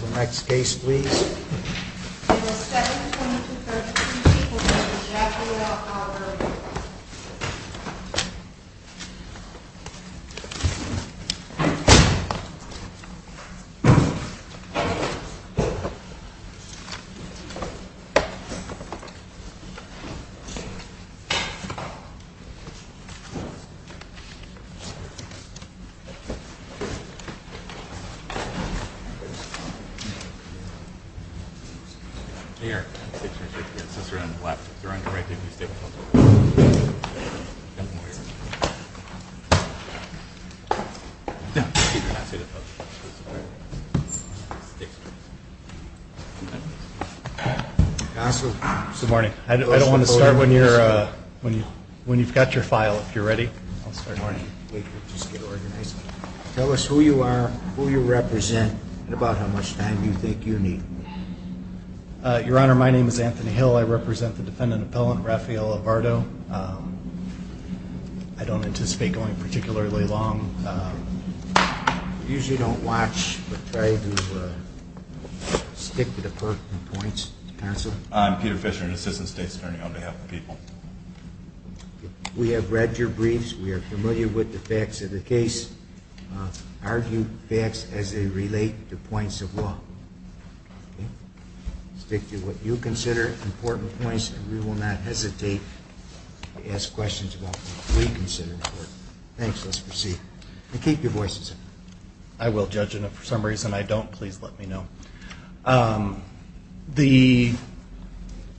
The next case please. Good morning. I don't want to start when you've got your file. If you're ready, I'll start. Good morning. Tell us who you are, who you represent, and about how much time you think you need. Your Honor, my name is Anthony Hill. I represent the defendant appellant Raphael Alvardo. I don't anticipate going particularly long. I usually don't watch, but try to stick to the points. I'm Peter Fisher, an assistant state attorney on behalf of the people. We have read your briefs. We are familiar with the facts of the case. Argue facts as they relate to points of law. Stick to what you consider important points, and we will not hesitate to ask questions about what we consider important. Thanks. Let's proceed. Keep your voices down. I will, Judge, and if for some reason I don't, please let me know.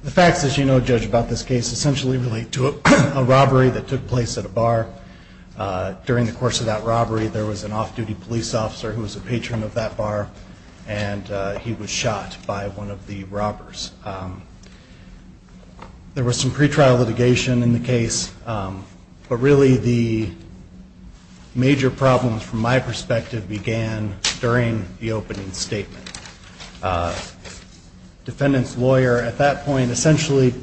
The facts, as you know, Judge, about this case essentially relate to a robbery that took place at a bar. During the course of that robbery, there was an off-duty police officer who was a patron of that bar, and he was shot by one of the robbers. There was some pretrial litigation in the case, but really the major problems from my perspective began during the opening statement. Defendant's lawyer at that point essentially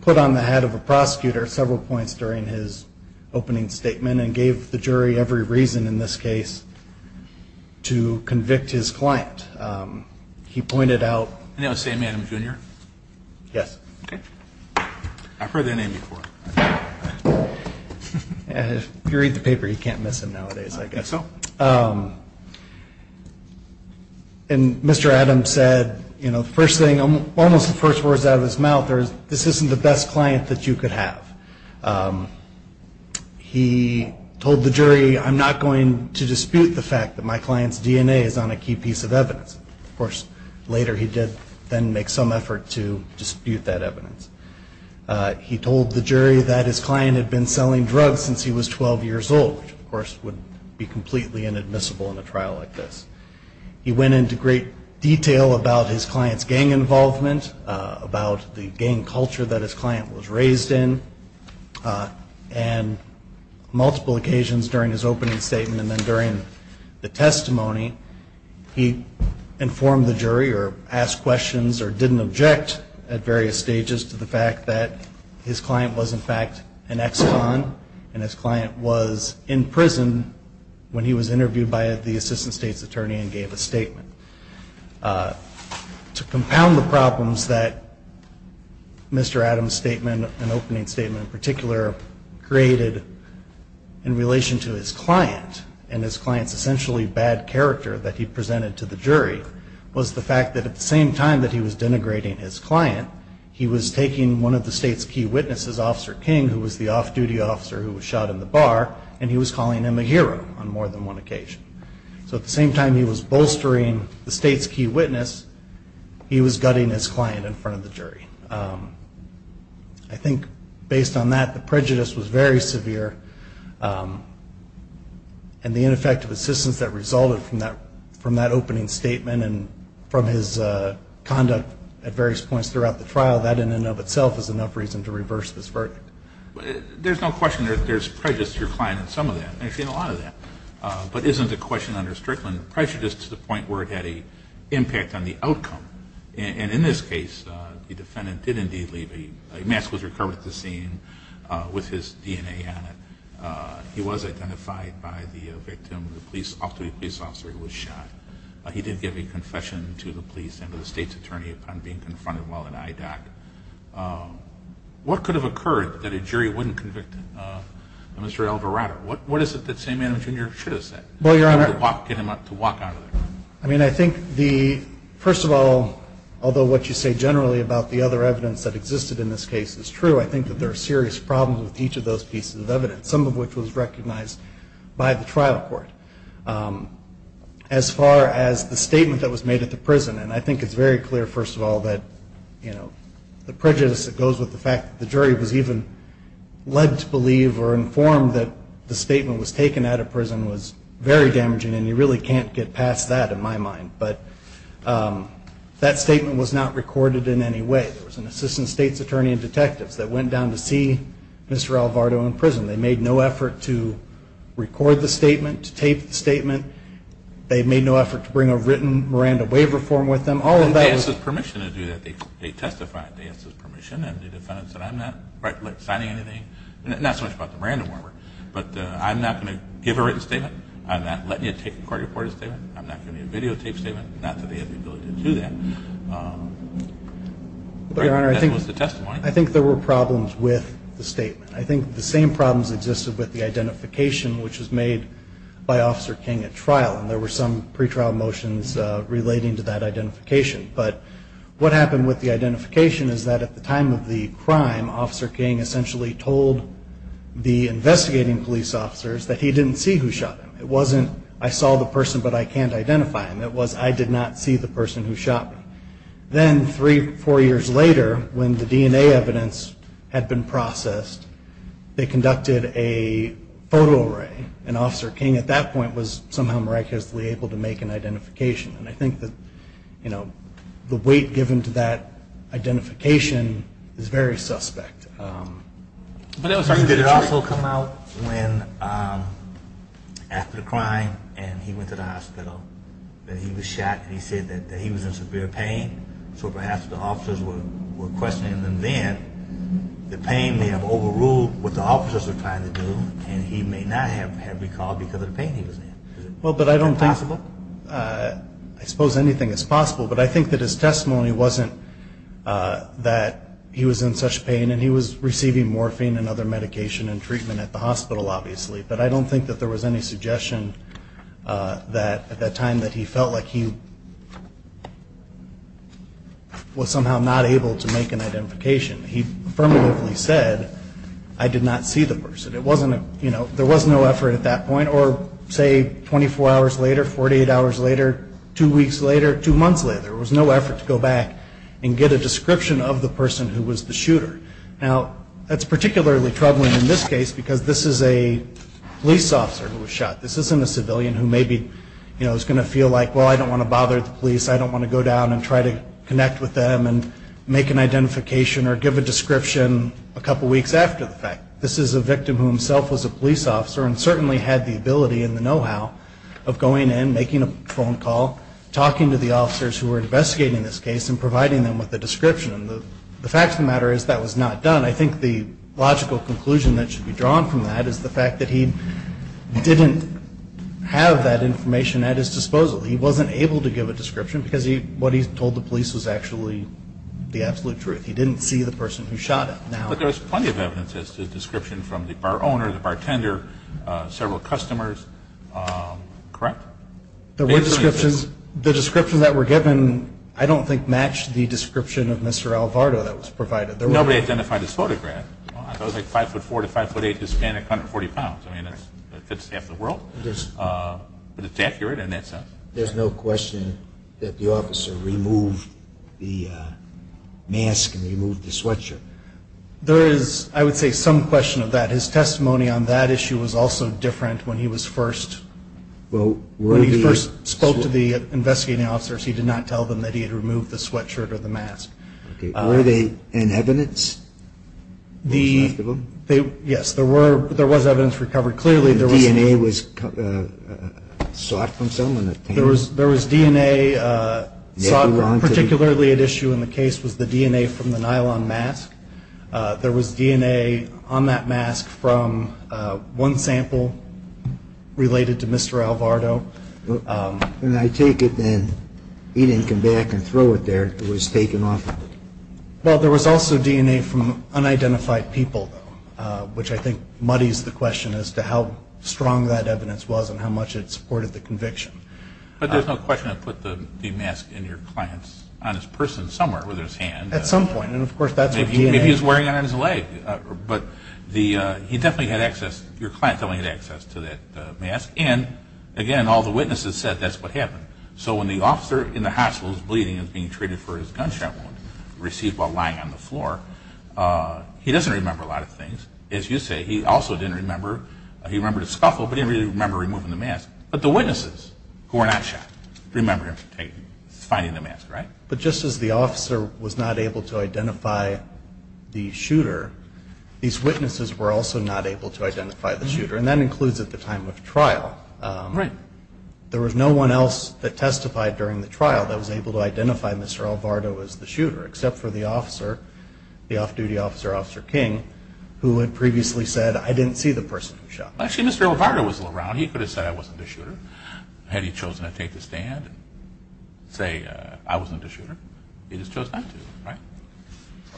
put on the head of a prosecutor several points during his opening statement and gave the jury every reason in this case to convict his client. He pointed out... If you read the paper, you can't miss him nowadays, I guess. And Mr. Adams said, you know, the first thing, almost the first words out of his mouth, this isn't the best client that you could have. He told the jury, I'm not going to dispute the fact that my client's DNA is on a key piece of evidence. Of course, later he did then make some effort to dispute that evidence. He told the jury that his client had been selling drugs since he was 12 years old, which of course would be completely inadmissible in a trial like this. He went into great detail about his client's gang involvement, about the gang culture that his client was raised in, and multiple occasions during his opening statement and then during the testimony, he informed the jury or asked questions or didn't object at various stages to the fact that his client was in fact an ex-con and his client was in prison when he was interviewed by the assistant state's attorney and gave a statement. To compound the problems that Mr. Adams' statement, an opening statement in particular, created in relation to his client and his client's essentially bad character that he presented to the jury, was the fact that at the same time that he was denigrating his client, he was taking one of the state's key witnesses, Officer King, who was the off-duty officer who was shot in the bar, and he was calling him a hero on more than one occasion. So at the same time he was bolstering the state's key witness, he was gutting his client in front of the jury. I think based on that, the prejudice was very severe, and the ineffective assistance that resulted from that opening statement and from his conduct at various points throughout the trial, that in and of itself is enough reason to reverse this verdict. There's no question there's prejudice to your client in some of that. And I've seen a lot of that. But isn't the question under Strickland prejudice to the point where it had an impact on the outcome? And in this case, the defendant did indeed leave. A mask was recovered at the scene with his DNA on it. He was identified by the victim, the off-duty police officer who was shot. He did give a confession to the police and to the state's attorney upon being confronted while in IDOC. What could have occurred that a jury wouldn't convict Mr. Alvarado? What is it that Samantha Junior should have said to get him to walk out of there? I think, first of all, although what you say generally about the other evidence that existed in this case is true, I think that there are serious problems with each of those pieces of evidence, some of which was recognized by the trial court. As far as the statement that was made at the prison, and I think it's very clear, first of all, that the prejudice that goes with the fact that the jury was even led to believe or informed that the statement was taken out of prison was very damaging, and you really can't get past that in my mind. But that statement was not recorded in any way. There was an assistant state's attorney and detectives that went down to see Mr. Alvarado in prison. They made no effort to record the statement, to tape the statement. They made no effort to bring a written Miranda waiver form with them. And they asked his permission to do that. They testified. They asked his permission, and the defendant said, I'm not signing anything. Not so much about the Miranda waiver, but I'm not going to give a written statement. I'm not letting you take a court-reported statement. I'm not giving you a videotaped statement. Not that they have the ability to do that. But, Your Honor, I think there were problems with the statement. I think the same problems existed with the identification, which was made by Officer King at trial, and there were some pretrial motions relating to that identification. But what happened with the identification is that at the time of the crime, Officer King essentially told the investigating police officers that he didn't see who shot him. It wasn't, I saw the person, but I can't identify him. It was, I did not see the person who shot me. Then three, four years later, when the DNA evidence had been processed, they conducted a photo array, and Officer King at that point was somehow miraculously able to make an identification. And I think that, you know, the weight given to that identification is very suspect. Did it also come out when after the crime and he went to the hospital that he was shot and he said that he was in severe pain? So perhaps the officers were questioning him then. The pain may have overruled what the officers were trying to do, and he may not have recalled because of the pain he was in. Well, but I don't think, I suppose anything is possible. But I think that his testimony wasn't that he was in such pain, and he was receiving morphine and other medication and treatment at the hospital, obviously. But I don't think that there was any suggestion that at that time that he felt like he was somehow not able to make an identification. He affirmatively said, I did not see the person. There was no effort at that point, or say 24 hours later, 48 hours later, two weeks later, two months later, there was no effort to go back and get a description of the person who was the shooter. Now, that's particularly troubling in this case because this is a police officer who was shot. This isn't a civilian who maybe, you know, is going to feel like, well, I don't want to bother the police. I don't want to go down and try to connect with them and make an identification or give a description a couple weeks after the fact. This is a victim who himself was a police officer and certainly had the ability and the know-how of going in, making a phone call, talking to the officers who were investigating this case, and providing them with a description. The fact of the matter is that was not done. I think the logical conclusion that should be drawn from that is the fact that he didn't have that information at his disposal. He wasn't able to give a description because what he told the police was actually the absolute truth. He didn't see the person who shot him. But there was plenty of evidence as to the description from the bar owner, the bartender, several customers, correct? There were descriptions. The descriptions that were given I don't think matched the description of Mr. Alvarado that was provided. Nobody identified his photograph. It was like 5'4"-5'8"-Hispanic, 140 pounds. I mean, it fits half the world, but it's accurate in that sense. There's no question that the officer removed the mask and removed the sweatshirt. There is, I would say, some question of that. His testimony on that issue was also different when he was first. When he first spoke to the investigating officers, he did not tell them that he had removed the sweatshirt or the mask. Were they in evidence? Yes, there was evidence recovered. The DNA was sought from someone? There was DNA sought. Particularly at issue in the case was the DNA from the nylon mask. There was DNA on that mask from one sample related to Mr. Alvarado. And I take it then he didn't come back and throw it there. It was taken off of it. Well, there was also DNA from unidentified people, though, which I think muddies the question as to how strong that evidence was and how much it supported the conviction. But there's no question it put the mask in your client's, on his person somewhere with his hand. At some point, and of course that's with DNA. Maybe he was wearing it on his leg. But he definitely had access, your client definitely had access to that mask. And, again, all the witnesses said that's what happened. So when the officer in the hospital is bleeding and is being treated for his gunshot wound, received while lying on the floor, he doesn't remember a lot of things. As you say, he also didn't remember, he remembered a scuffle, but he didn't really remember removing the mask. But the witnesses who were not shot remember him finding the mask, right? But just as the officer was not able to identify the shooter, these witnesses were also not able to identify the shooter, and that includes at the time of trial. Right. There was no one else that testified during the trial that was able to identify Mr. Alvarado as the shooter, except for the officer, the off-duty officer, Officer King, who had previously said, I didn't see the person who shot me. Actually, Mr. Alvarado was around. He could have said I wasn't the shooter. Had he chosen to take the stand and say I wasn't the shooter, he just chose not to, right?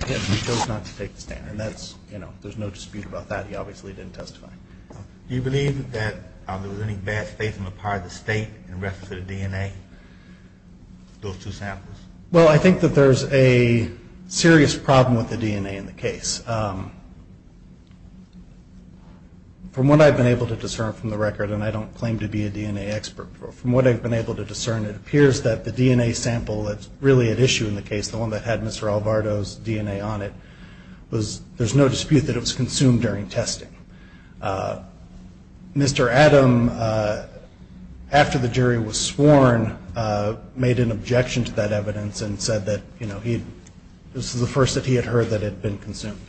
Yes, he chose not to take the stand, and that's, you know, there's no dispute about that. He obviously didn't testify. Do you believe that there was any bad faith on the part of the state in reference to the DNA, those two samples? Well, I think that there's a serious problem with the DNA in the case. From what I've been able to discern from the record, and I don't claim to be a DNA expert, from what I've been able to discern, it appears that the DNA sample that's really at issue in the case, the one that had Mr. Alvarado's DNA on it, there's no dispute that it was consumed during testing. Mr. Adam, after the jury was sworn, made an objection to that evidence and said that this was the first that he had heard that it had been consumed.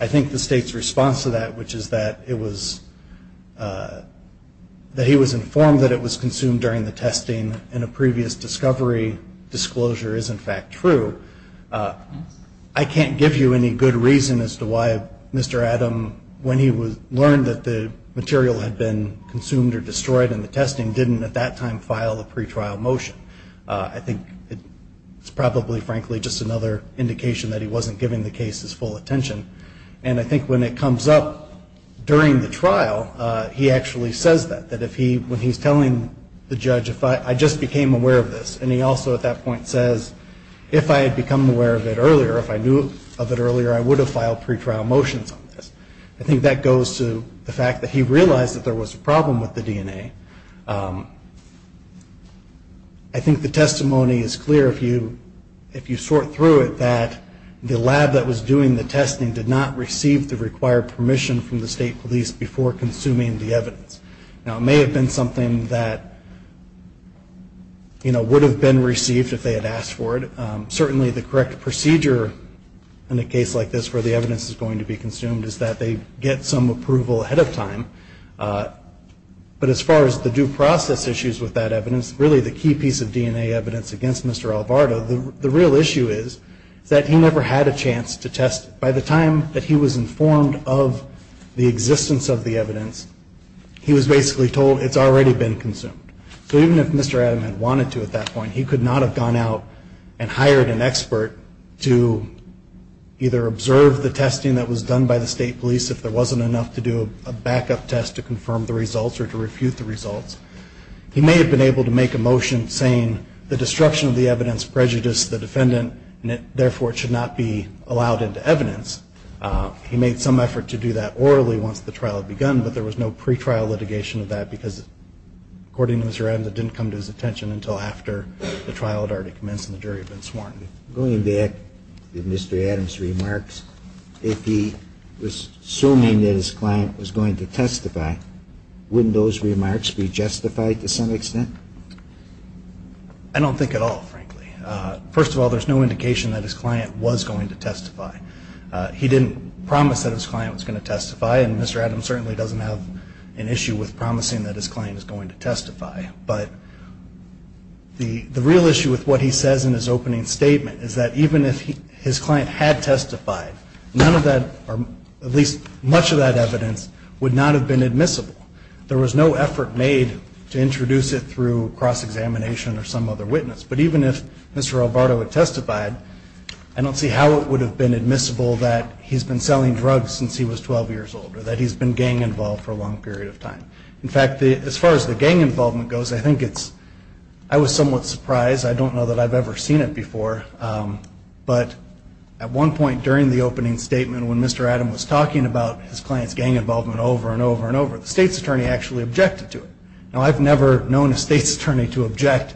I think the state's response to that, which is that he was informed that it was consumed during the testing and a previous discovery disclosure is, in fact, true. I can't give you any good reason as to why Mr. Adam, when he learned that the material had been consumed or destroyed in the testing, didn't at that time file a pretrial motion. I think it's probably, frankly, just another indication that he wasn't giving the case his full attention. And I think when it comes up during the trial, he actually says that, when he's telling the judge, I just became aware of this. And he also at that point says, if I had become aware of it earlier, if I knew of it earlier, I would have filed pretrial motions on this. I think that goes to the fact that he realized that there was a problem with the DNA. I think the testimony is clear if you sort through it, that the lab that was doing the testing did not receive the required permission from the state police before consuming the evidence. Now, it may have been something that, you know, would have been received if they had asked for it. Certainly, the correct procedure in a case like this where the evidence is going to be consumed is that they get some approval ahead of time. But as far as the due process issues with that evidence, really the key piece of DNA evidence against Mr. Alvarado, the real issue is that he never had a chance to test it. By the time that he was informed of the existence of the evidence, he was basically told it's already been consumed. So even if Mr. Adam had wanted to at that point, he could not have gone out and hired an expert to either observe the testing that was done by the state police if there wasn't enough to do a backup test to confirm the results or to refute the results. He may have been able to make a motion saying the destruction of the evidence prejudiced the defendant, and therefore it should not be allowed into evidence. He made some effort to do that orally once the trial had begun, but there was no pretrial litigation of that because according to Mr. Adam, that didn't come to his attention until after the trial had already commenced and the jury had been sworn. Going back to Mr. Adam's remarks, if he was assuming that his client was going to testify, wouldn't those remarks be justified to some extent? I don't think at all, frankly. First of all, there's no indication that his client was going to testify. He didn't promise that his client was going to testify, and Mr. Adam certainly doesn't have an issue with promising that his client is going to testify. But the real issue with what he says in his opening statement is that even if his client had testified, none of that or at least much of that evidence would not have been admissible. There was no effort made to introduce it through cross-examination or some other witness. But even if Mr. Albardo had testified, I don't see how it would have been admissible that he's been selling drugs since he was 12 years old or that he's been gang involved for a long period of time. In fact, as far as the gang involvement goes, I think it's, I was somewhat surprised. I don't know that I've ever seen it before, but at one point during the opening statement when Mr. Adam was talking about his client's gang involvement over and over and over, the state's attorney actually objected to it. Now, I've never known a state's attorney to object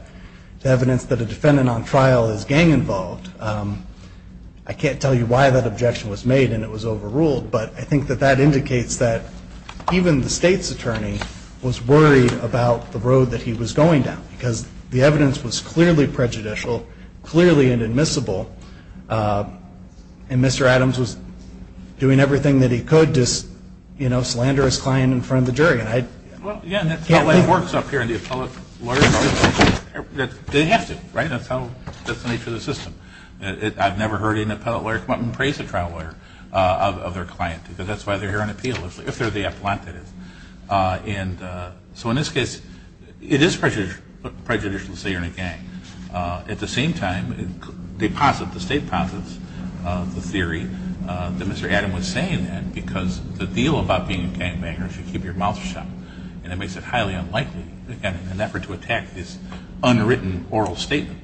to evidence that a defendant on trial is gang involved. I can't tell you why that objection was made and it was overruled, but I think that that indicates that even the state's attorney was worried about the road that he was going down because the evidence was clearly prejudicial, clearly inadmissible, and Mr. Adams was doing everything that he could to, you know, slander his client in front of the jury. Well, yeah, and that's how it works up here in the appellate lawyer's office. They have to, right? That's the nature of the system. I've never heard an appellate lawyer come up and praise a trial lawyer of their client because that's why they're here on appeal, if they're the appellant, that is. And so in this case, it is prejudicial to say you're in a gang. At the same time, the state posits the theory that Mr. Adam was saying that because the deal about being a gangbanger is you keep your mouth shut, and it makes it highly unlikely that in an effort to attack this unwritten oral statement,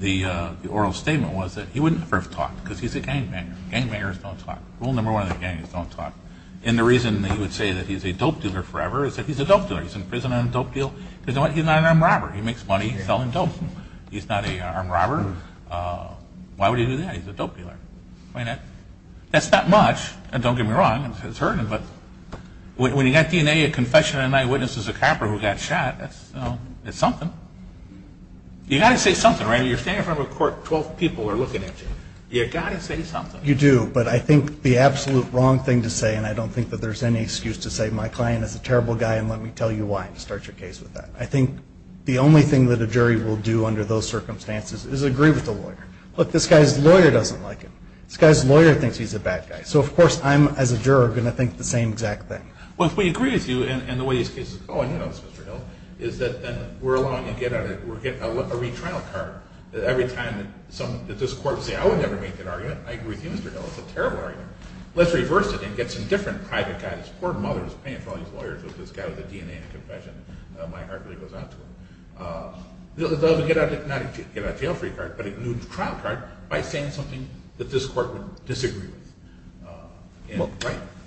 the oral statement was that he wouldn't have talked because he's a gangbanger. Gangbangers don't talk. Rule number one of the gang is don't talk. And the reason that he would say that he's a dope dealer forever is that he's a dope dealer. He's in prison on a dope deal because he's not an armed robber. He makes money selling dope. He's not an armed robber. Why would he do that? He's a dope dealer. That's not much, and don't get me wrong, it's hurting, but when you've got DNA, a confession, and an eyewitness is a copper who got shot, it's something. You've got to say something, right? You're standing in front of a court, 12 people are looking at you. You've got to say something. You do, but I think the absolute wrong thing to say, and I don't think that there's any excuse to say my client is a terrible guy and let me tell you why and start your case with that. I think the only thing that a jury will do under those circumstances is agree with the lawyer. Look, this guy's lawyer doesn't like him. This guy's lawyer thinks he's a bad guy. So, of course, I'm, as a juror, going to think the same exact thing. Well, if we agree with you and the way this case is going, you know, Mr. Hill, is that then we're allowing you to get a retrial card. Every time that this court would say, I would never make that argument, I agree with you, Mr. Hill, it's a terrible argument. Let's reverse it and get some different private guys. Poor mother is paying for all these lawyers with this guy with a DNA and a confession. My heart really goes out to her. They'll get a jail-free card, but a new trial card, by saying something that this court would disagree with.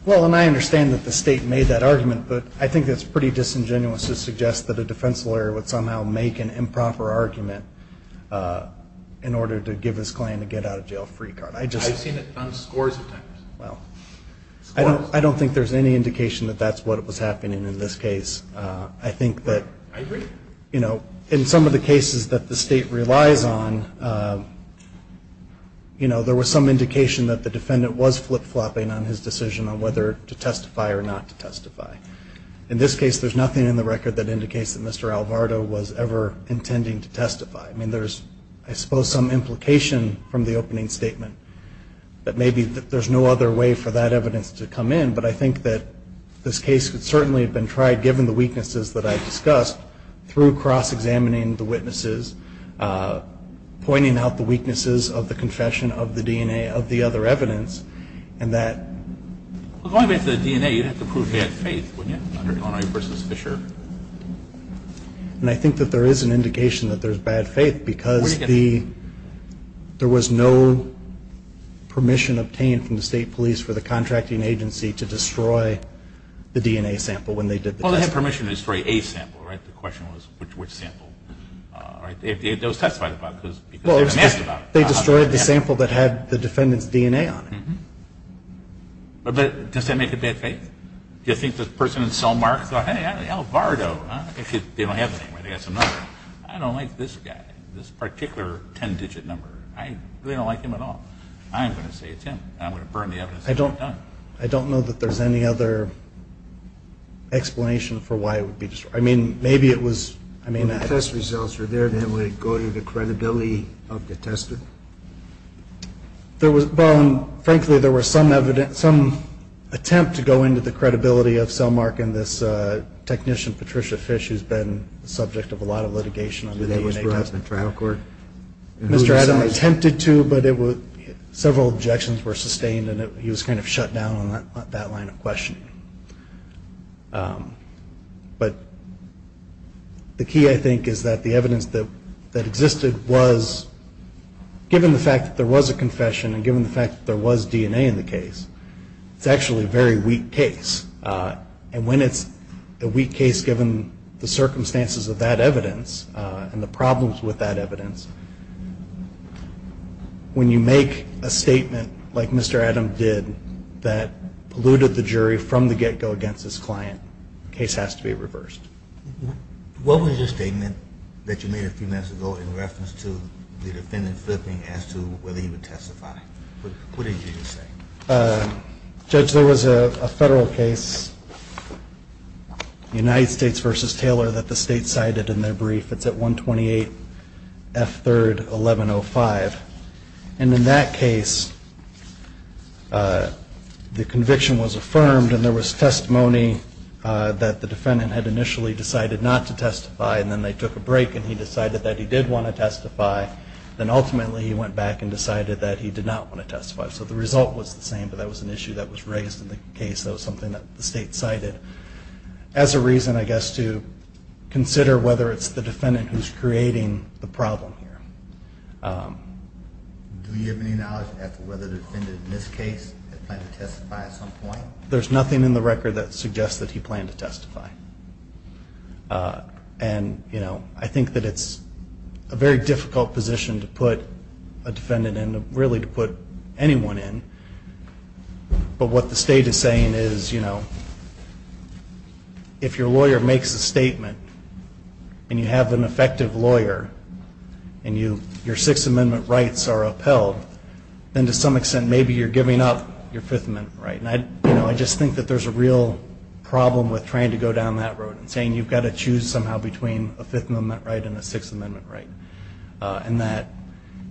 Well, and I understand that the state made that argument, but I think that's pretty disingenuous to suggest that a defense lawyer would somehow make an improper argument in order to give his client a get-out-of-jail-free card. I've seen it done scores of times. Well, I don't think there's any indication that that's what was happening in this case. I think that, you know, in some of the cases that the state relies on, you know, there was some indication that the defendant was flip-flopping on his decision on whether to testify or not to testify. In this case, there's nothing in the record that indicates that Mr. Alvarado was ever intending to testify. I mean, there's, I suppose, some implication from the opening statement that maybe there's no other way for that evidence to come in, but I think that this case could certainly have been tried, given the weaknesses that I've discussed, through cross-examining the witnesses, pointing out the weaknesses of the confession of the DNA of the other evidence, and that... Well, going back to the DNA, you'd have to prove bad faith, wouldn't you, under Illinois v. Fisher? And I think that there is an indication that there's bad faith, because there was no permission obtained from the state police for the contracting agency to destroy the DNA sample when they did the test. Well, they had permission to destroy a sample, right? The question was which sample, right? It was testified about, because they hadn't asked about it. They destroyed the sample that had the defendant's DNA on it. But does that make it bad faith? Do you think the person in cell mark thought, hey, Alvarado, if they don't have the DNA, I don't like this guy, this particular ten-digit number. They don't like him at all. I'm going to say it's him, and I'm going to burn the evidence that he's done. I don't know that there's any other explanation for why it would be destroyed. I mean, maybe it was... When the test results are there, then would it go to the credibility of the tester? Well, frankly, there was some attempt to go into the credibility of cell mark and this technician, Patricia Fish, who's been the subject of a lot of litigation. Who was brought up in trial court? Mr. Adams attempted to, but several objections were sustained, and he was kind of shut down on that line of questioning. But the key, I think, is that the evidence that existed was, given the fact that there was a confession and given the fact that there was DNA in the case, it's actually a very weak case. And when it's a weak case, given the circumstances of that evidence and the problems with that evidence, when you make a statement like Mr. Adams did that polluted the jury from the get-go against his client, the case has to be reversed. What was your statement that you made a few minutes ago in reference to the defendant flipping as to whether he would testify? What did you say? Judge, there was a federal case, United States v. Taylor, that the state cited in their brief. It's at 128 F. 3rd, 1105. And in that case, the conviction was affirmed, and there was testimony that the defendant had initially decided not to testify, and then they took a break, and he decided that he did want to testify. Then ultimately, he went back and decided that he did not want to testify. So the result was the same, but that was an issue that was raised in the case. That was something that the state cited as a reason, I guess, to consider whether it's the defendant who's creating the problem here. Do you have any knowledge as to whether the defendant in this case had planned to testify at some point? There's nothing in the record that suggests that he planned to testify. And, you know, I think that it's a very difficult position to put a defendant in and really to put anyone in. But what the state is saying is, you know, if your lawyer makes a statement and you have an effective lawyer and your Sixth Amendment rights are upheld, then to some extent maybe you're giving up your Fifth Amendment right. And, you know, I just think that there's a real problem with trying to go down that road and saying you've got to choose somehow between a Fifth Amendment right and a Sixth Amendment right. And that,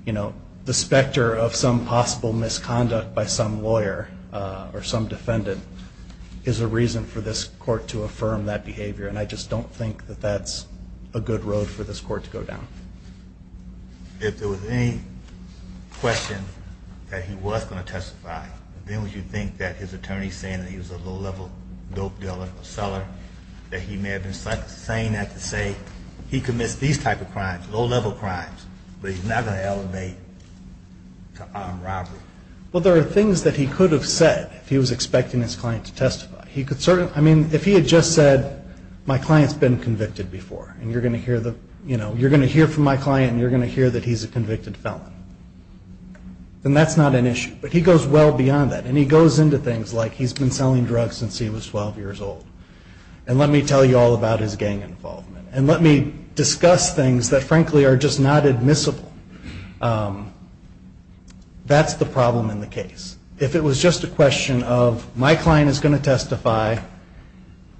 you know, the specter of some possible misconduct by some lawyer or some defendant is a reason for this court to affirm that behavior, and I just don't think that that's a good road for this court to go down. Then would you think that his attorney saying that he was a low-level dope dealer or seller, that he may have been saying that to say he commits these type of crimes, low-level crimes, but he's not going to elevate to armed robbery? Well, there are things that he could have said if he was expecting his client to testify. I mean, if he had just said, my client's been convicted before, and you're going to hear from my client and you're going to hear that he's a convicted felon, then that's not an issue, but he goes well beyond that, and he goes into things like he's been selling drugs since he was 12 years old, and let me tell you all about his gang involvement, and let me discuss things that, frankly, are just not admissible. That's the problem in the case. If it was just a question of my client is going to testify,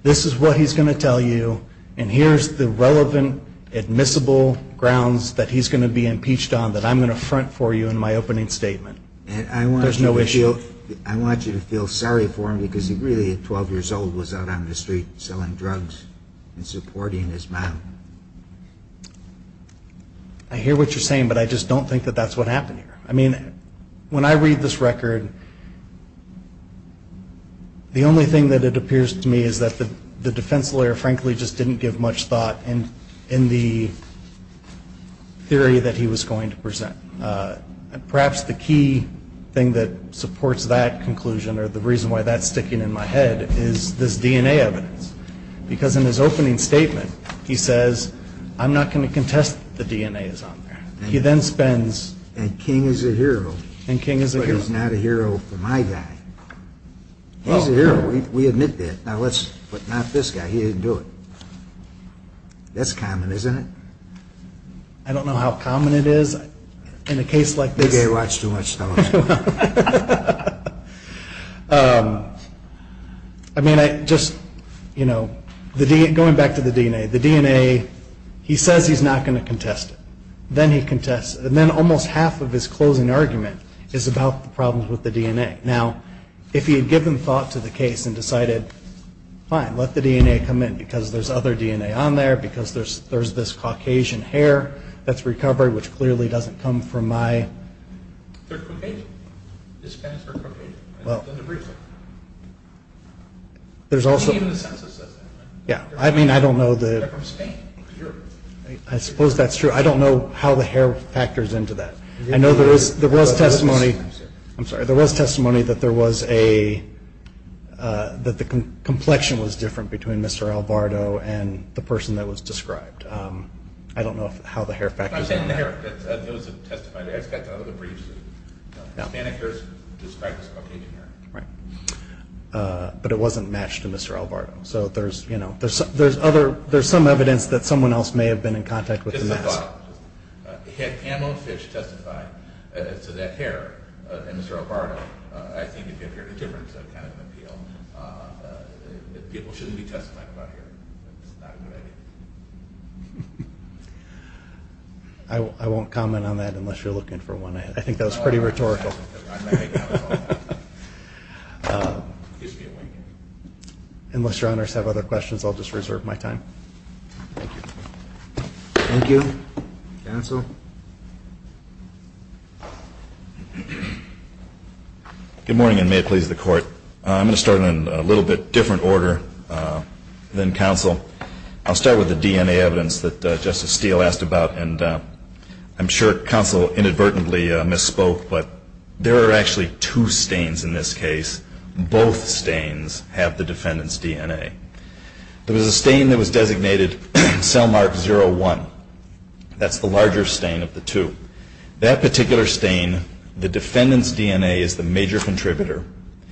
this is what he's going to tell you, and here's the relevant admissible grounds that he's going to be impeached on that I'm going to front for you in my opening statement. There's no issue. I want you to feel sorry for him because he really, at 12 years old, was out on the street selling drugs and supporting his battle. I hear what you're saying, but I just don't think that that's what happened here. I mean, when I read this record, the only thing that it appears to me is that the defense lawyer, frankly, just didn't give much thought in the theory that he was going to present. Perhaps the key thing that supports that conclusion or the reason why that's sticking in my head is this DNA evidence because in his opening statement he says, I'm not going to contest that the DNA is on there. He then spends. And King is a hero. And King is a hero. But he's not a hero. He's a hero for my guy. He's a hero. We admit that. But not this guy. He didn't do it. That's common, isn't it? I don't know how common it is in a case like this. Maybe they watch too much television. I mean, just going back to the DNA. The DNA, he says he's not going to contest it. Then he contests it. And then almost half of his closing argument is about the problems with the DNA. Now, if he had given thought to the case and decided, fine, let the DNA come in because there's other DNA on there, because there's this Caucasian hair that's recovered, which clearly doesn't come from my. They're Caucasian. This guy is Caucasian. Well, there's also. Even the census says that. Yeah. I mean, I don't know the. They're from Spain. I suppose that's true. I don't know how the hair factors into that. I know there was testimony. I'm sorry. There was testimony that there was a, that the complexion was different between Mr. Alvarado and the person that was described. I don't know how the hair factors in. I'm saying the hair. It was a testified hair. It's got the other briefs. Hispanic hair is described as Caucasian hair. Right. But it wasn't matched to Mr. Alvarado. So there's, you know, there's other. There's some evidence that someone else may have been in contact with. Pamela Fitch testified to that hair. Mr. Alvarado. I think if you hear the difference of kind of appeal, people shouldn't be testifying about here. I won't comment on that unless you're looking for one. I think that was pretty rhetorical. Unless your honors have other questions, I'll just reserve my time. Thank you. Thank you. Counsel. Good morning and may it please the court. I'm going to start in a little bit different order than counsel. I'll start with the DNA evidence that Justice Steele asked about. And I'm sure counsel inadvertently misspoke, Both stains have the defendant's DNA. There was a stain that was designated cell mark 01. That's the larger stain of the two. That particular stain, the defendant's DNA is the major contributor.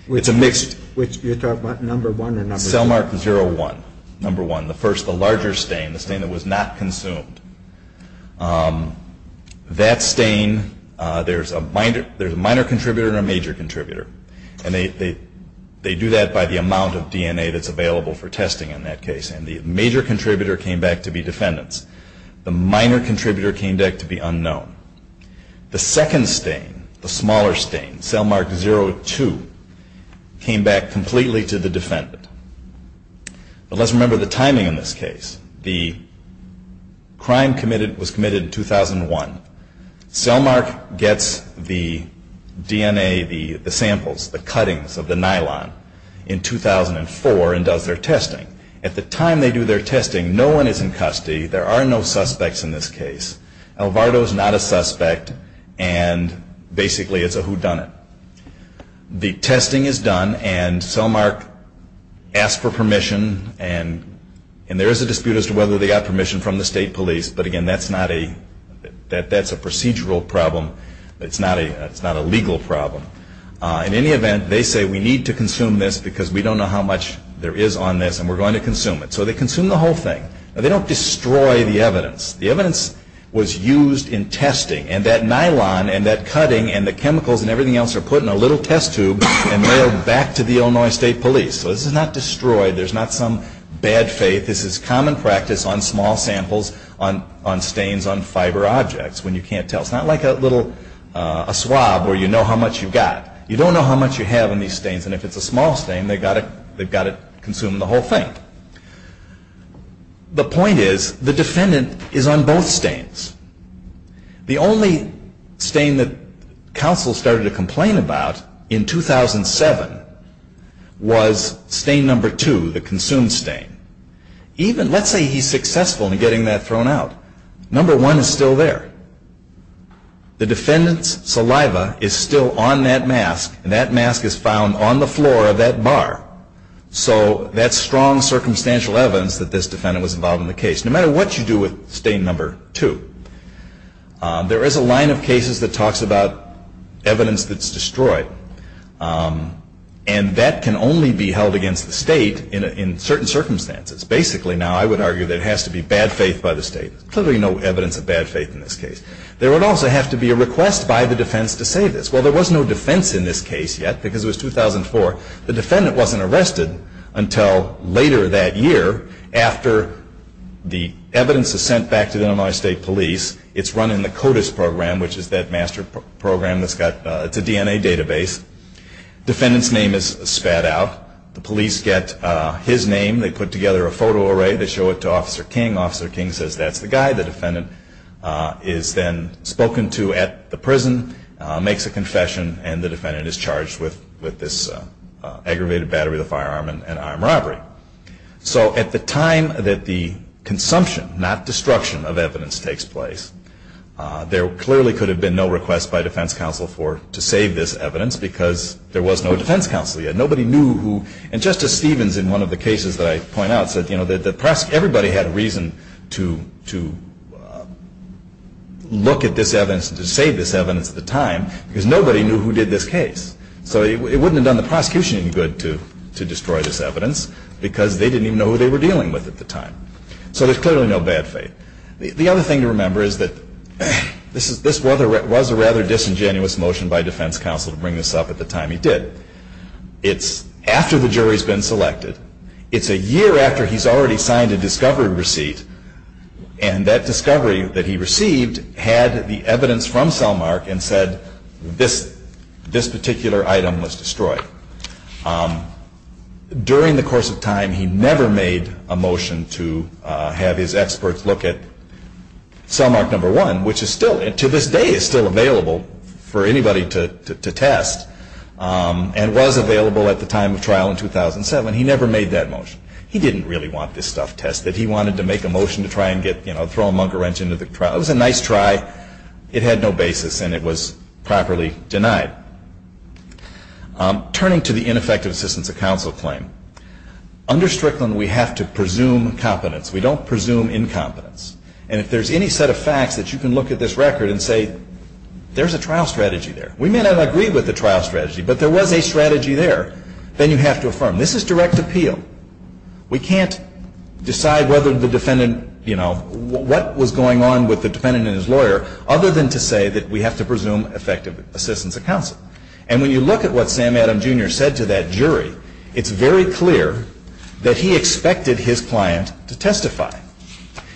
It's a mixed. Which you're talking about, number one or number two? Cell mark 01, number one. The first, the larger stain, the stain that was not consumed. That stain, there's a minor contributor and a major contributor. And they do that by the amount of DNA that's available for testing in that case. And the major contributor came back to be defendant's. The minor contributor came back to be unknown. The second stain, the smaller stain, cell mark 02, came back completely to the defendant. But let's remember the timing in this case. The crime was committed in 2001. Cell mark gets the DNA, the samples, the cuttings of the nylon in 2004 and does their testing. At the time they do their testing, no one is in custody. There are no suspects in this case. Alvarado is not a suspect. And basically it's a whodunit. The testing is done and cell mark asks for permission. And there is a dispute as to whether they got permission from the state police. But, again, that's a procedural problem. It's not a legal problem. In any event, they say we need to consume this because we don't know how much there is on this. And we're going to consume it. So they consume the whole thing. They don't destroy the evidence. The evidence was used in testing. And that nylon and that cutting and the chemicals and everything else are put in a little test tube and mailed back to the Illinois State Police. So this is not destroyed. There's not some bad faith. This is common practice on small samples on stains on fiber objects when you can't tell. It's not like a little swab where you know how much you've got. You don't know how much you have on these stains. And if it's a small stain, they've got to consume the whole thing. The point is the defendant is on both stains. The only stain that counsel started to complain about in 2007 was stain number two, the consumed stain. Let's say he's successful in getting that thrown out. Number one is still there. The defendant's saliva is still on that mask. And that mask is found on the floor of that bar. So that's strong circumstantial evidence that this defendant was involved in the case. No matter what you do with stain number two, there is a line of cases that talks about evidence that's destroyed. And that can only be held against the state in certain circumstances. Basically, now, I would argue that it has to be bad faith by the state. There's clearly no evidence of bad faith in this case. There would also have to be a request by the defense to say this. Well, there was no defense in this case yet because it was 2004. The defendant wasn't arrested until later that year after the evidence is sent back to the Illinois State Police. It's run in the CODIS program, which is that master program that's got, it's a DNA database. Defendant's name is spat out. The police get his name. They put together a photo array. They show it to Officer King. Officer King says that's the guy the defendant is then spoken to at the prison, makes a confession, and the defendant is charged with this aggravated battery of the firearm and armed robbery. So at the time that the consumption, not destruction, of evidence takes place, there clearly could have been no request by defense counsel to save this evidence because there was no defense counsel yet. Nobody knew who, and Justice Stevens in one of the cases that I point out said that everybody had a reason to look at this evidence and to save this evidence at the time because nobody knew who did this case. So it wouldn't have done the prosecution any good to destroy this evidence because they didn't even know who they were dealing with at the time. So there's clearly no bad faith. The other thing to remember is that this was a rather disingenuous motion by defense counsel to bring this up at the time he did. It's after the jury's been selected. It's a year after he's already signed a discovery receipt, and that discovery that he received had the evidence from Selmark and said this particular item was destroyed. During the course of time, he never made a motion to have his experts look at Selmark No. 1, which to this day is still available for anybody to test and was available at the time of trial in 2007. He never made that motion. He didn't really want this stuff tested. He wanted to make a motion to try and throw a monger wrench into the trial. It was a nice try. It had no basis, and it was properly denied. Turning to the ineffective assistance of counsel claim, under Strickland, we have to presume competence. We don't presume incompetence. And if there's any set of facts that you can look at this record and say, there's a trial strategy there. We may not agree with the trial strategy, but there was a strategy there. Then you have to affirm. This is direct appeal. We can't decide whether the defendant, you know, what was going on with the defendant and his lawyer, other than to say that we have to presume effective assistance of counsel. And when you look at what Sam Adam, Jr. said to that jury, it's very clear that he expected his client to testify.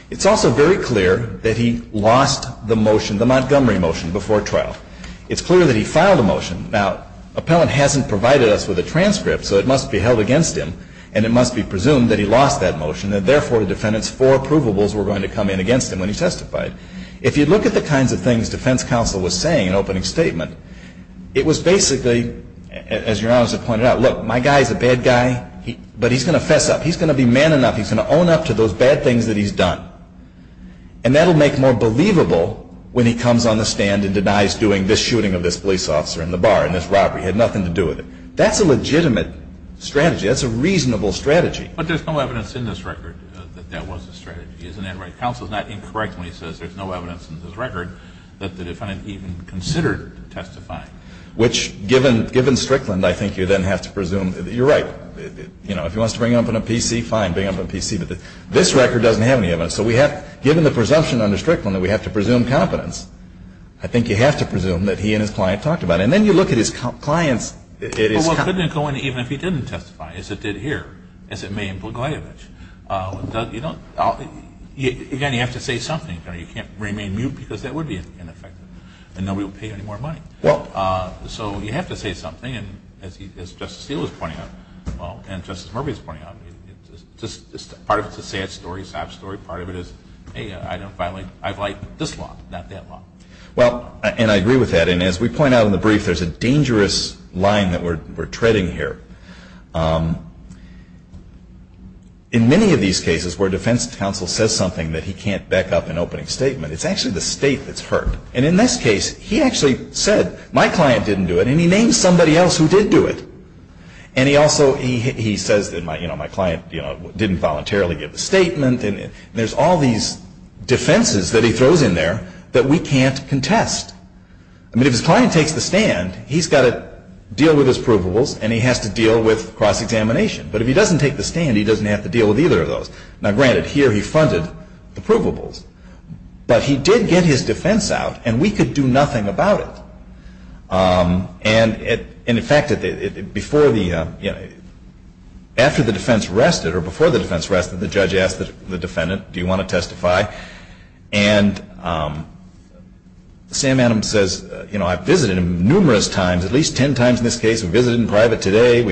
It's also very clear that he lost the motion, the Montgomery motion, before trial. It's clear that he filed a motion. Now, appellant hasn't provided us with a transcript, so it must be held against him, and it must be presumed that he lost that motion and, therefore, the defendant's four approvables were going to come in against him when he testified. If you look at the kinds of things defense counsel was saying in opening statement, it was basically, as your Honor has pointed out, look, my guy's a bad guy, but he's going to fess up. He's going to be man enough. He's going to own up to those bad things that he's done. And that will make more believable when he comes on the stand and denies doing this shooting of this police officer in the bar, in this robbery. He had nothing to do with it. That's a legitimate strategy. That's a reasonable strategy. But there's no evidence in this record that that was a strategy, isn't that right? Counsel's not incorrect when he says there's no evidence in this record that the defendant even considered testifying. Which, given Strickland, I think you then have to presume that you're right. You know, if he wants to bring it up in a PC, fine, bring it up in a PC. But this record doesn't have any evidence. So we have, given the presumption under Strickland that we have to presume competence, I think you have to presume that he and his client talked about it. And then you look at his client's. It is. Well, it couldn't have gone even if he didn't testify, as it did here, as it may in Blagojevich. Again, you have to say something. You can't remain mute because that would be ineffective. And nobody would pay you any more money. So you have to say something. And as Justice Steele was pointing out, and Justice Murphy was pointing out, part of it's a sad story, a sad story. Part of it is, hey, I know, finally, I've liked this law, not that law. Well, and I agree with that. And as we point out in the brief, there's a dangerous line that we're treading here. In many of these cases where defense counsel says something that he can't back up in opening statement, it's actually the state that's hurt. And in this case, he actually said, my client didn't do it, and he named somebody else who did do it. And he also, he says that my client didn't voluntarily give the statement. And there's all these defenses that he throws in there that we can't contest. I mean, if his client takes the stand, he's got to deal with his provables, and he has to deal with cross-examination. But if he doesn't take the stand, he doesn't have to deal with either of those. Now, granted, here he funded the provables. But he did get his defense out, and we could do nothing about it. And in fact, after the defense rested, or before the defense rested, the judge asked the defendant, do you want to testify? And Sam Adams says, you know, I've visited him numerous times, at least 10 times in this case. We visited in private today.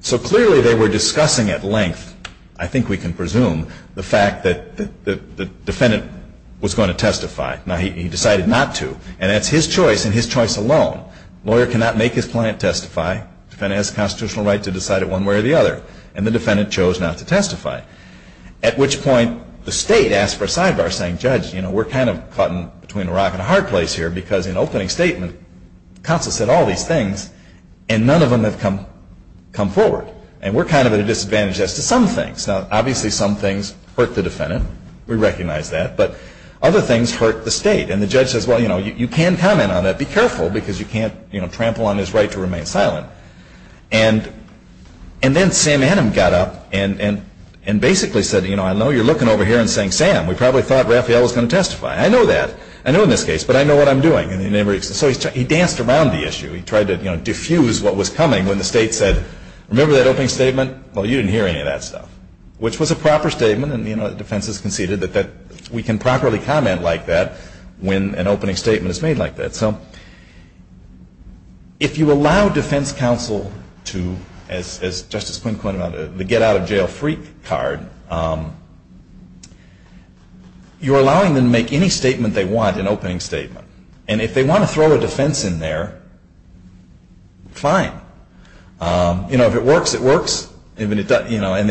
So clearly they were discussing at length, I think we can presume, the fact that the defendant was going to testify. Now, he decided not to. And that's his choice, and his choice alone. A lawyer cannot make his client testify. A defendant has a constitutional right to decide it one way or the other. And the defendant chose not to testify. At which point, the state asked for a sidebar, saying, judge, you know, we're kind of caught between a rock and a hard place here, because in opening statement, counsel said all these things, and none of them have come forward. And we're kind of at a disadvantage as to some things. Now, obviously some things hurt the defendant. We recognize that. But other things hurt the state. And the judge says, well, you know, you can comment on it. Be careful, because you can't, you know, trample on his right to remain silent. And then Sam Adams got up and basically said, you know, I know you're looking over here and saying, Sam, we probably thought Raphael was going to testify. I know that. I know in this case. But I know what I'm doing. So he danced around the issue. He tried to, you know, diffuse what was coming when the state said, remember that opening statement? Well, you didn't hear any of that stuff, which was a proper statement. And, you know, the defense has conceded that we can properly comment like that when an opening statement is made like that. So if you allow defense counsel to, as Justice Quinn pointed out, the get-out-of-jail-freak card, you're allowing them to make any statement they want an opening statement. And if they want to throw a defense in there, fine. And then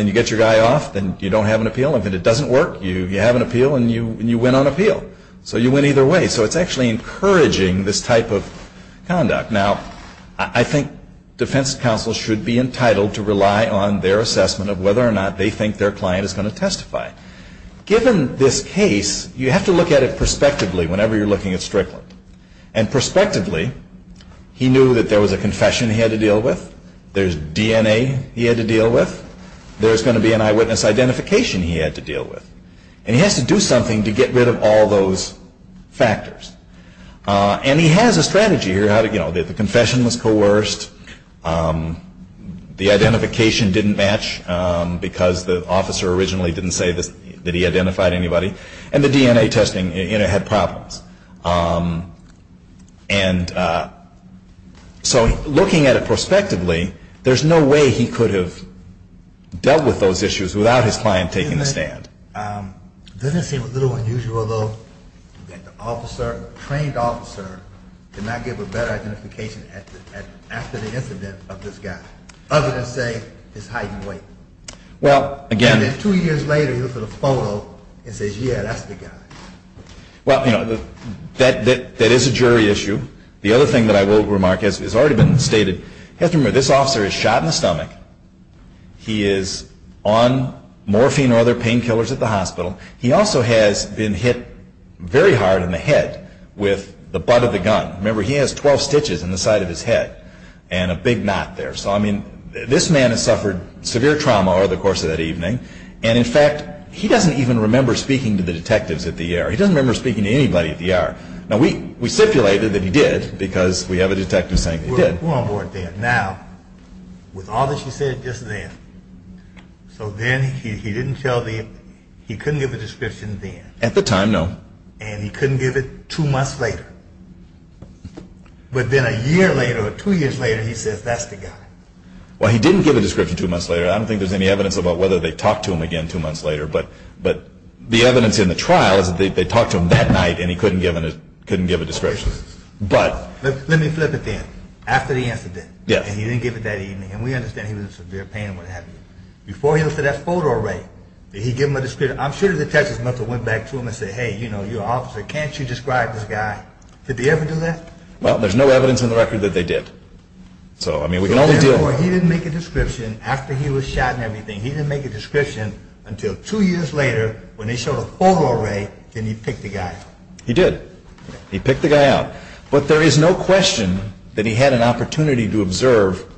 you get your guy off and you don't have an appeal. If it doesn't work, you have an appeal and you win on appeal. So you win either way. So it's actually encouraging this type of conduct. Now, I think defense counsel should be entitled to rely on their assessment of whether or not they think their client is going to testify. Given this case, you have to look at it prospectively whenever you're looking at Strickland. And prospectively, he knew that there was a confession he had to deal with. There's DNA he had to deal with. There's going to be an eyewitness identification he had to deal with. And he has to do something to get rid of all those factors. And he has a strategy here. You know, the confession was coerced. The identification didn't match because the officer originally didn't say that he identified anybody. And the DNA testing, you know, had problems. And so looking at it prospectively, there's no way he could have dealt with those issues without his client taking the stand. Doesn't it seem a little unusual, though, that the officer, the trained officer, did not give a better identification after the incident of this guy, other than say his height and weight? Well, again. And then two years later, he looks at a photo and says, yeah, that's the guy. Well, you know, that is a jury issue. The other thing that I will remark has already been stated. You have to remember, this officer is shot in the stomach. He is on morphine or other painkillers at the hospital. He also has been hit very hard in the head with the butt of the gun. Remember, he has 12 stitches in the side of his head and a big knot there. So, I mean, this man has suffered severe trauma over the course of that evening. And, in fact, he doesn't even remember speaking to the detectives at the ER. He doesn't remember speaking to anybody at the ER. Now, we stipulated that he did because we have a detective saying he did. We're on board there. Now, with all that you said just then, so then he didn't tell the, he couldn't give a description then. At the time, no. And he couldn't give it two months later. But then a year later or two years later, he says, that's the guy. Well, he didn't give a description two months later. I don't think there's any evidence about whether they talked to him again two months later. But the evidence in the trial is that they talked to him that night and he couldn't give a description. But. Let me flip it then. After the incident. Yes. And he didn't give it that evening. And we understand he was in severe pain and what have you. Before he looked at that photo array, did he give him a description? I'm sure the detectives must have went back to him and said, hey, you know, you're an officer. Can't you describe this guy? Did they ever do that? Well, there's no evidence in the record that they did. So, I mean, we can only deal. He didn't make a description after he was shot and everything. He didn't make a description until two years later when they showed a photo array. Then he picked the guy. He did. He picked the guy out. But there is no question that he had an opportunity to observe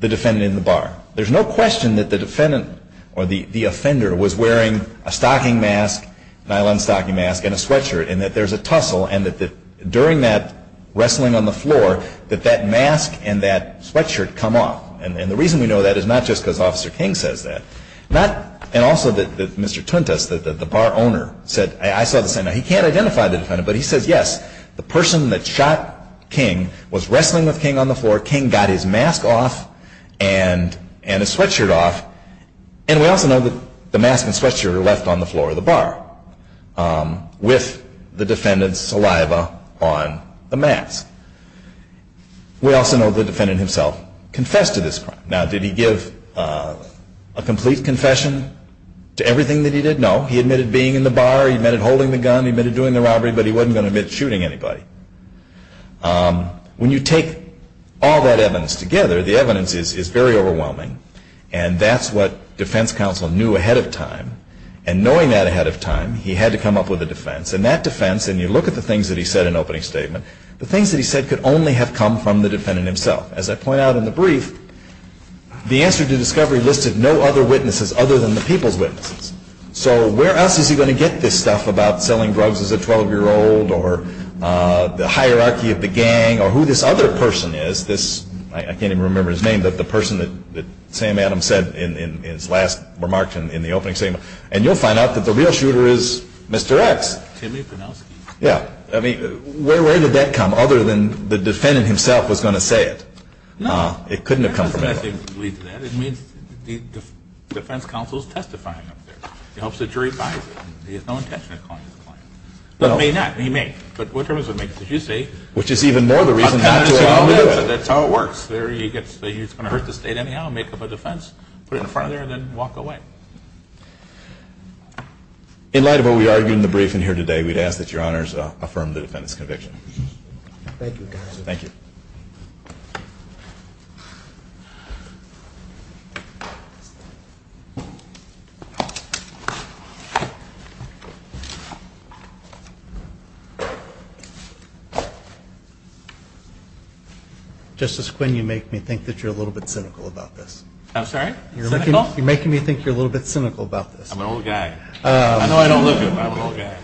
the defendant in the bar. There's no question that the defendant or the offender was wearing a stocking mask, nylon stocking mask and a sweatshirt. And that there's a tussle. And that during that wrestling on the floor, that that mask and that sweatshirt come off. And the reason we know that is not just because Officer King says that. And also that Mr. Tuntas, the bar owner, said, I saw this. Now, he can't identify the defendant. But he says, yes, the person that shot King was wrestling with King on the floor. King got his mask off and his sweatshirt off. And we also know that the mask and sweatshirt are left on the floor of the bar with the defendant's saliva on the mask. We also know the defendant himself confessed to this crime. Now, did he give a complete confession to everything that he did? No. He admitted being in the bar. He admitted holding the gun. He admitted doing the robbery. But he wasn't going to admit shooting anybody. When you take all that evidence together, the evidence is very overwhelming. And that's what defense counsel knew ahead of time. And knowing that ahead of time, he had to come up with a defense. And that defense, and you look at the things that he said in opening statement, the things that he said could only have come from the defendant himself. As I point out in the brief, the answer to discovery listed no other witnesses other than the people's witnesses. So where else is he going to get this stuff about selling drugs as a 12-year-old or the hierarchy of the gang or who this other person is? I can't even remember his name, but the person that Sam Adams said in his last remarks in the opening statement. And you'll find out that the real shooter is Mr. X. Timmy Pinowski. Yeah. I mean, where did that come, other than the defendant himself was going to say it? No. It couldn't have come from anyone. That doesn't lead to that. It means the defense counsel is testifying up there. It helps the jury find him. He has no intention of calling this a crime. But may not. He may. But what terms would make it? As you say. Which is even more the reason. That's how it works. He's going to hurt the state anyhow, make up a defense, put it in front of there, and then walk away. In light of what we argued in the briefing here today, we'd ask that Your Honors affirm the defendant's conviction. Thank you, counsel. Thank you. Justice Quinn, you make me think that you're a little bit cynical about this. I'm sorry? Cynical? You're making me think you're a little bit cynical about this. I'm an old guy. I know I don't look it, but I'm an old guy.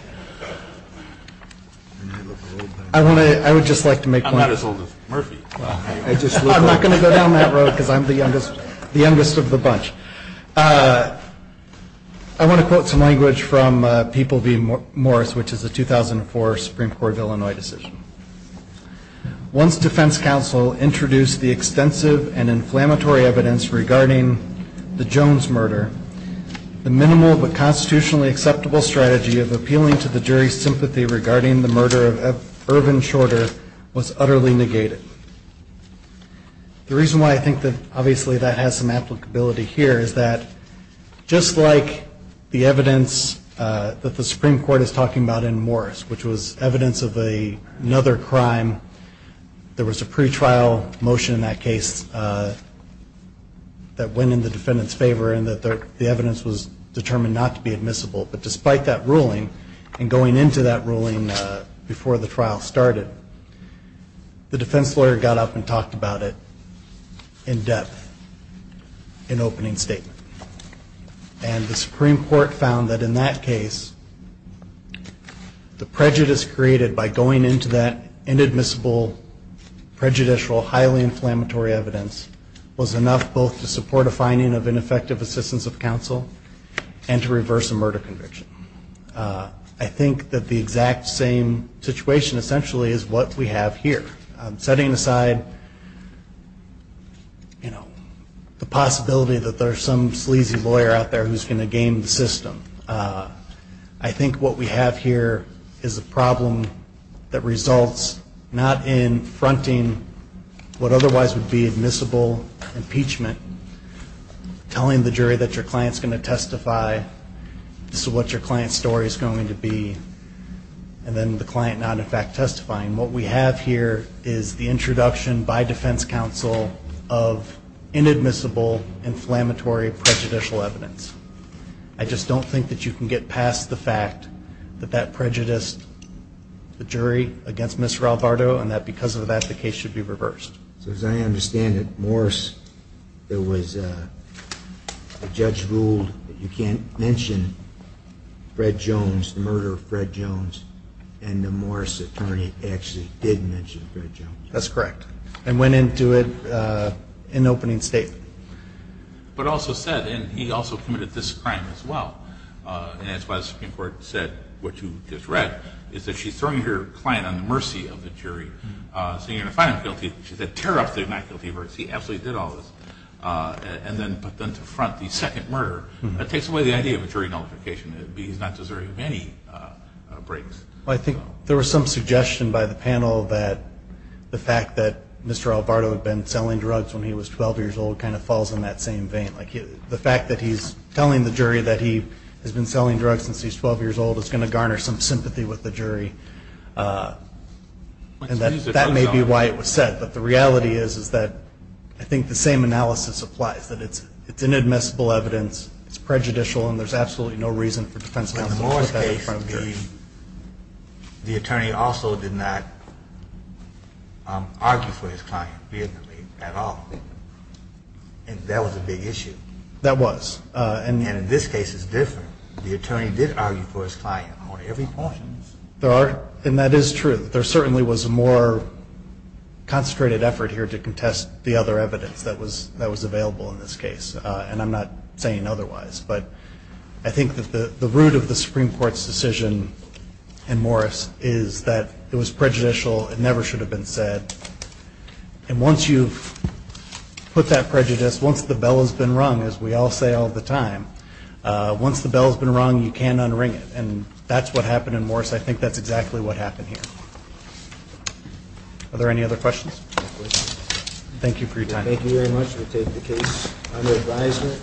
I would just like to make one point. I'm not as old as Murphy. I'm not going to go down that road because I'm the youngest of the bunch. I want to quote some language from People v. Morris, which is a 2004 Supreme Court of Illinois decision. Once defense counsel introduced the extensive and inflammatory evidence regarding the Jones murder, the minimal but constitutionally acceptable strategy of appealing to the jury's sympathy regarding the murder of Irvin Shorter was utterly negated. The reason why I think that obviously that has some applicability here is that, just like the evidence that the Supreme Court is talking about in Morris, which was evidence of another crime, there was a pretrial motion in that case that went in the defendant's favor and that the evidence was determined not to be admissible. But despite that ruling and going into that ruling before the trial started, the defense lawyer got up and talked about it in depth in opening statement. And the Supreme Court found that in that case, the prejudice created by going into that inadmissible, prejudicial, highly inflammatory evidence was enough both to support a finding of ineffective assistance of counsel and to reverse a murder conviction. I think that the exact same situation essentially is what we have here. Setting aside the possibility that there's some sleazy lawyer out there who's going to game the system, I think what we have here is a problem that results not in fronting what otherwise would be admissible impeachment, telling the jury that your client's going to testify, this is what your client's story is going to be, and then the client not, in fact, testifying. What we have here is the introduction by defense counsel of inadmissible, inflammatory, prejudicial evidence. I just don't think that you can get past the fact that that prejudiced the jury against Mr. Alvarado and that because of that, the case should be reversed. So as I understand it, Morris, the judge ruled that you can't mention Fred Jones, the murder of Fred Jones, and the Morris attorney actually did mention Fred Jones. That's correct. And went into it in the opening statement. But also said, and he also committed this crime as well, and that's why the Supreme Court said what you just read, is that she's throwing her client on the mercy of the jury. So you're going to find him guilty. She said, tear up the not guilty verdicts. He absolutely did all this. And then put them to front the second murder. That takes away the idea of a jury nullification. He's not deserving of any breaks. Well, I think there was some suggestion by the panel that the fact that Mr. Alvarado had been selling drugs when he was 12 years old kind of falls in that same vein. The fact that he's telling the jury that he has been selling drugs since he's 12 years old is going to garner some sympathy with the jury, and that may be why it was said. But the reality is that I think the same analysis applies, that it's inadmissible evidence, it's prejudicial, and there's absolutely no reason for defense counsel to put that in front of the jury. The attorney also did not argue for his client at all, and that was a big issue. That was. And in this case it's different. The attorney did argue for his client on every point. And that is true. There certainly was a more concentrated effort here to contest the other evidence that was available in this case, and I'm not saying otherwise. But I think that the root of the Supreme Court's decision in Morris is that it was prejudicial. It never should have been said. And once you've put that prejudice, once the bell has been rung, as we all say all the time, once the bell has been rung, you can't unring it. And that's what happened in Morris. I think that's exactly what happened here. Are there any other questions? Thank you for your time. Thank you very much. We'll take the case under advisement.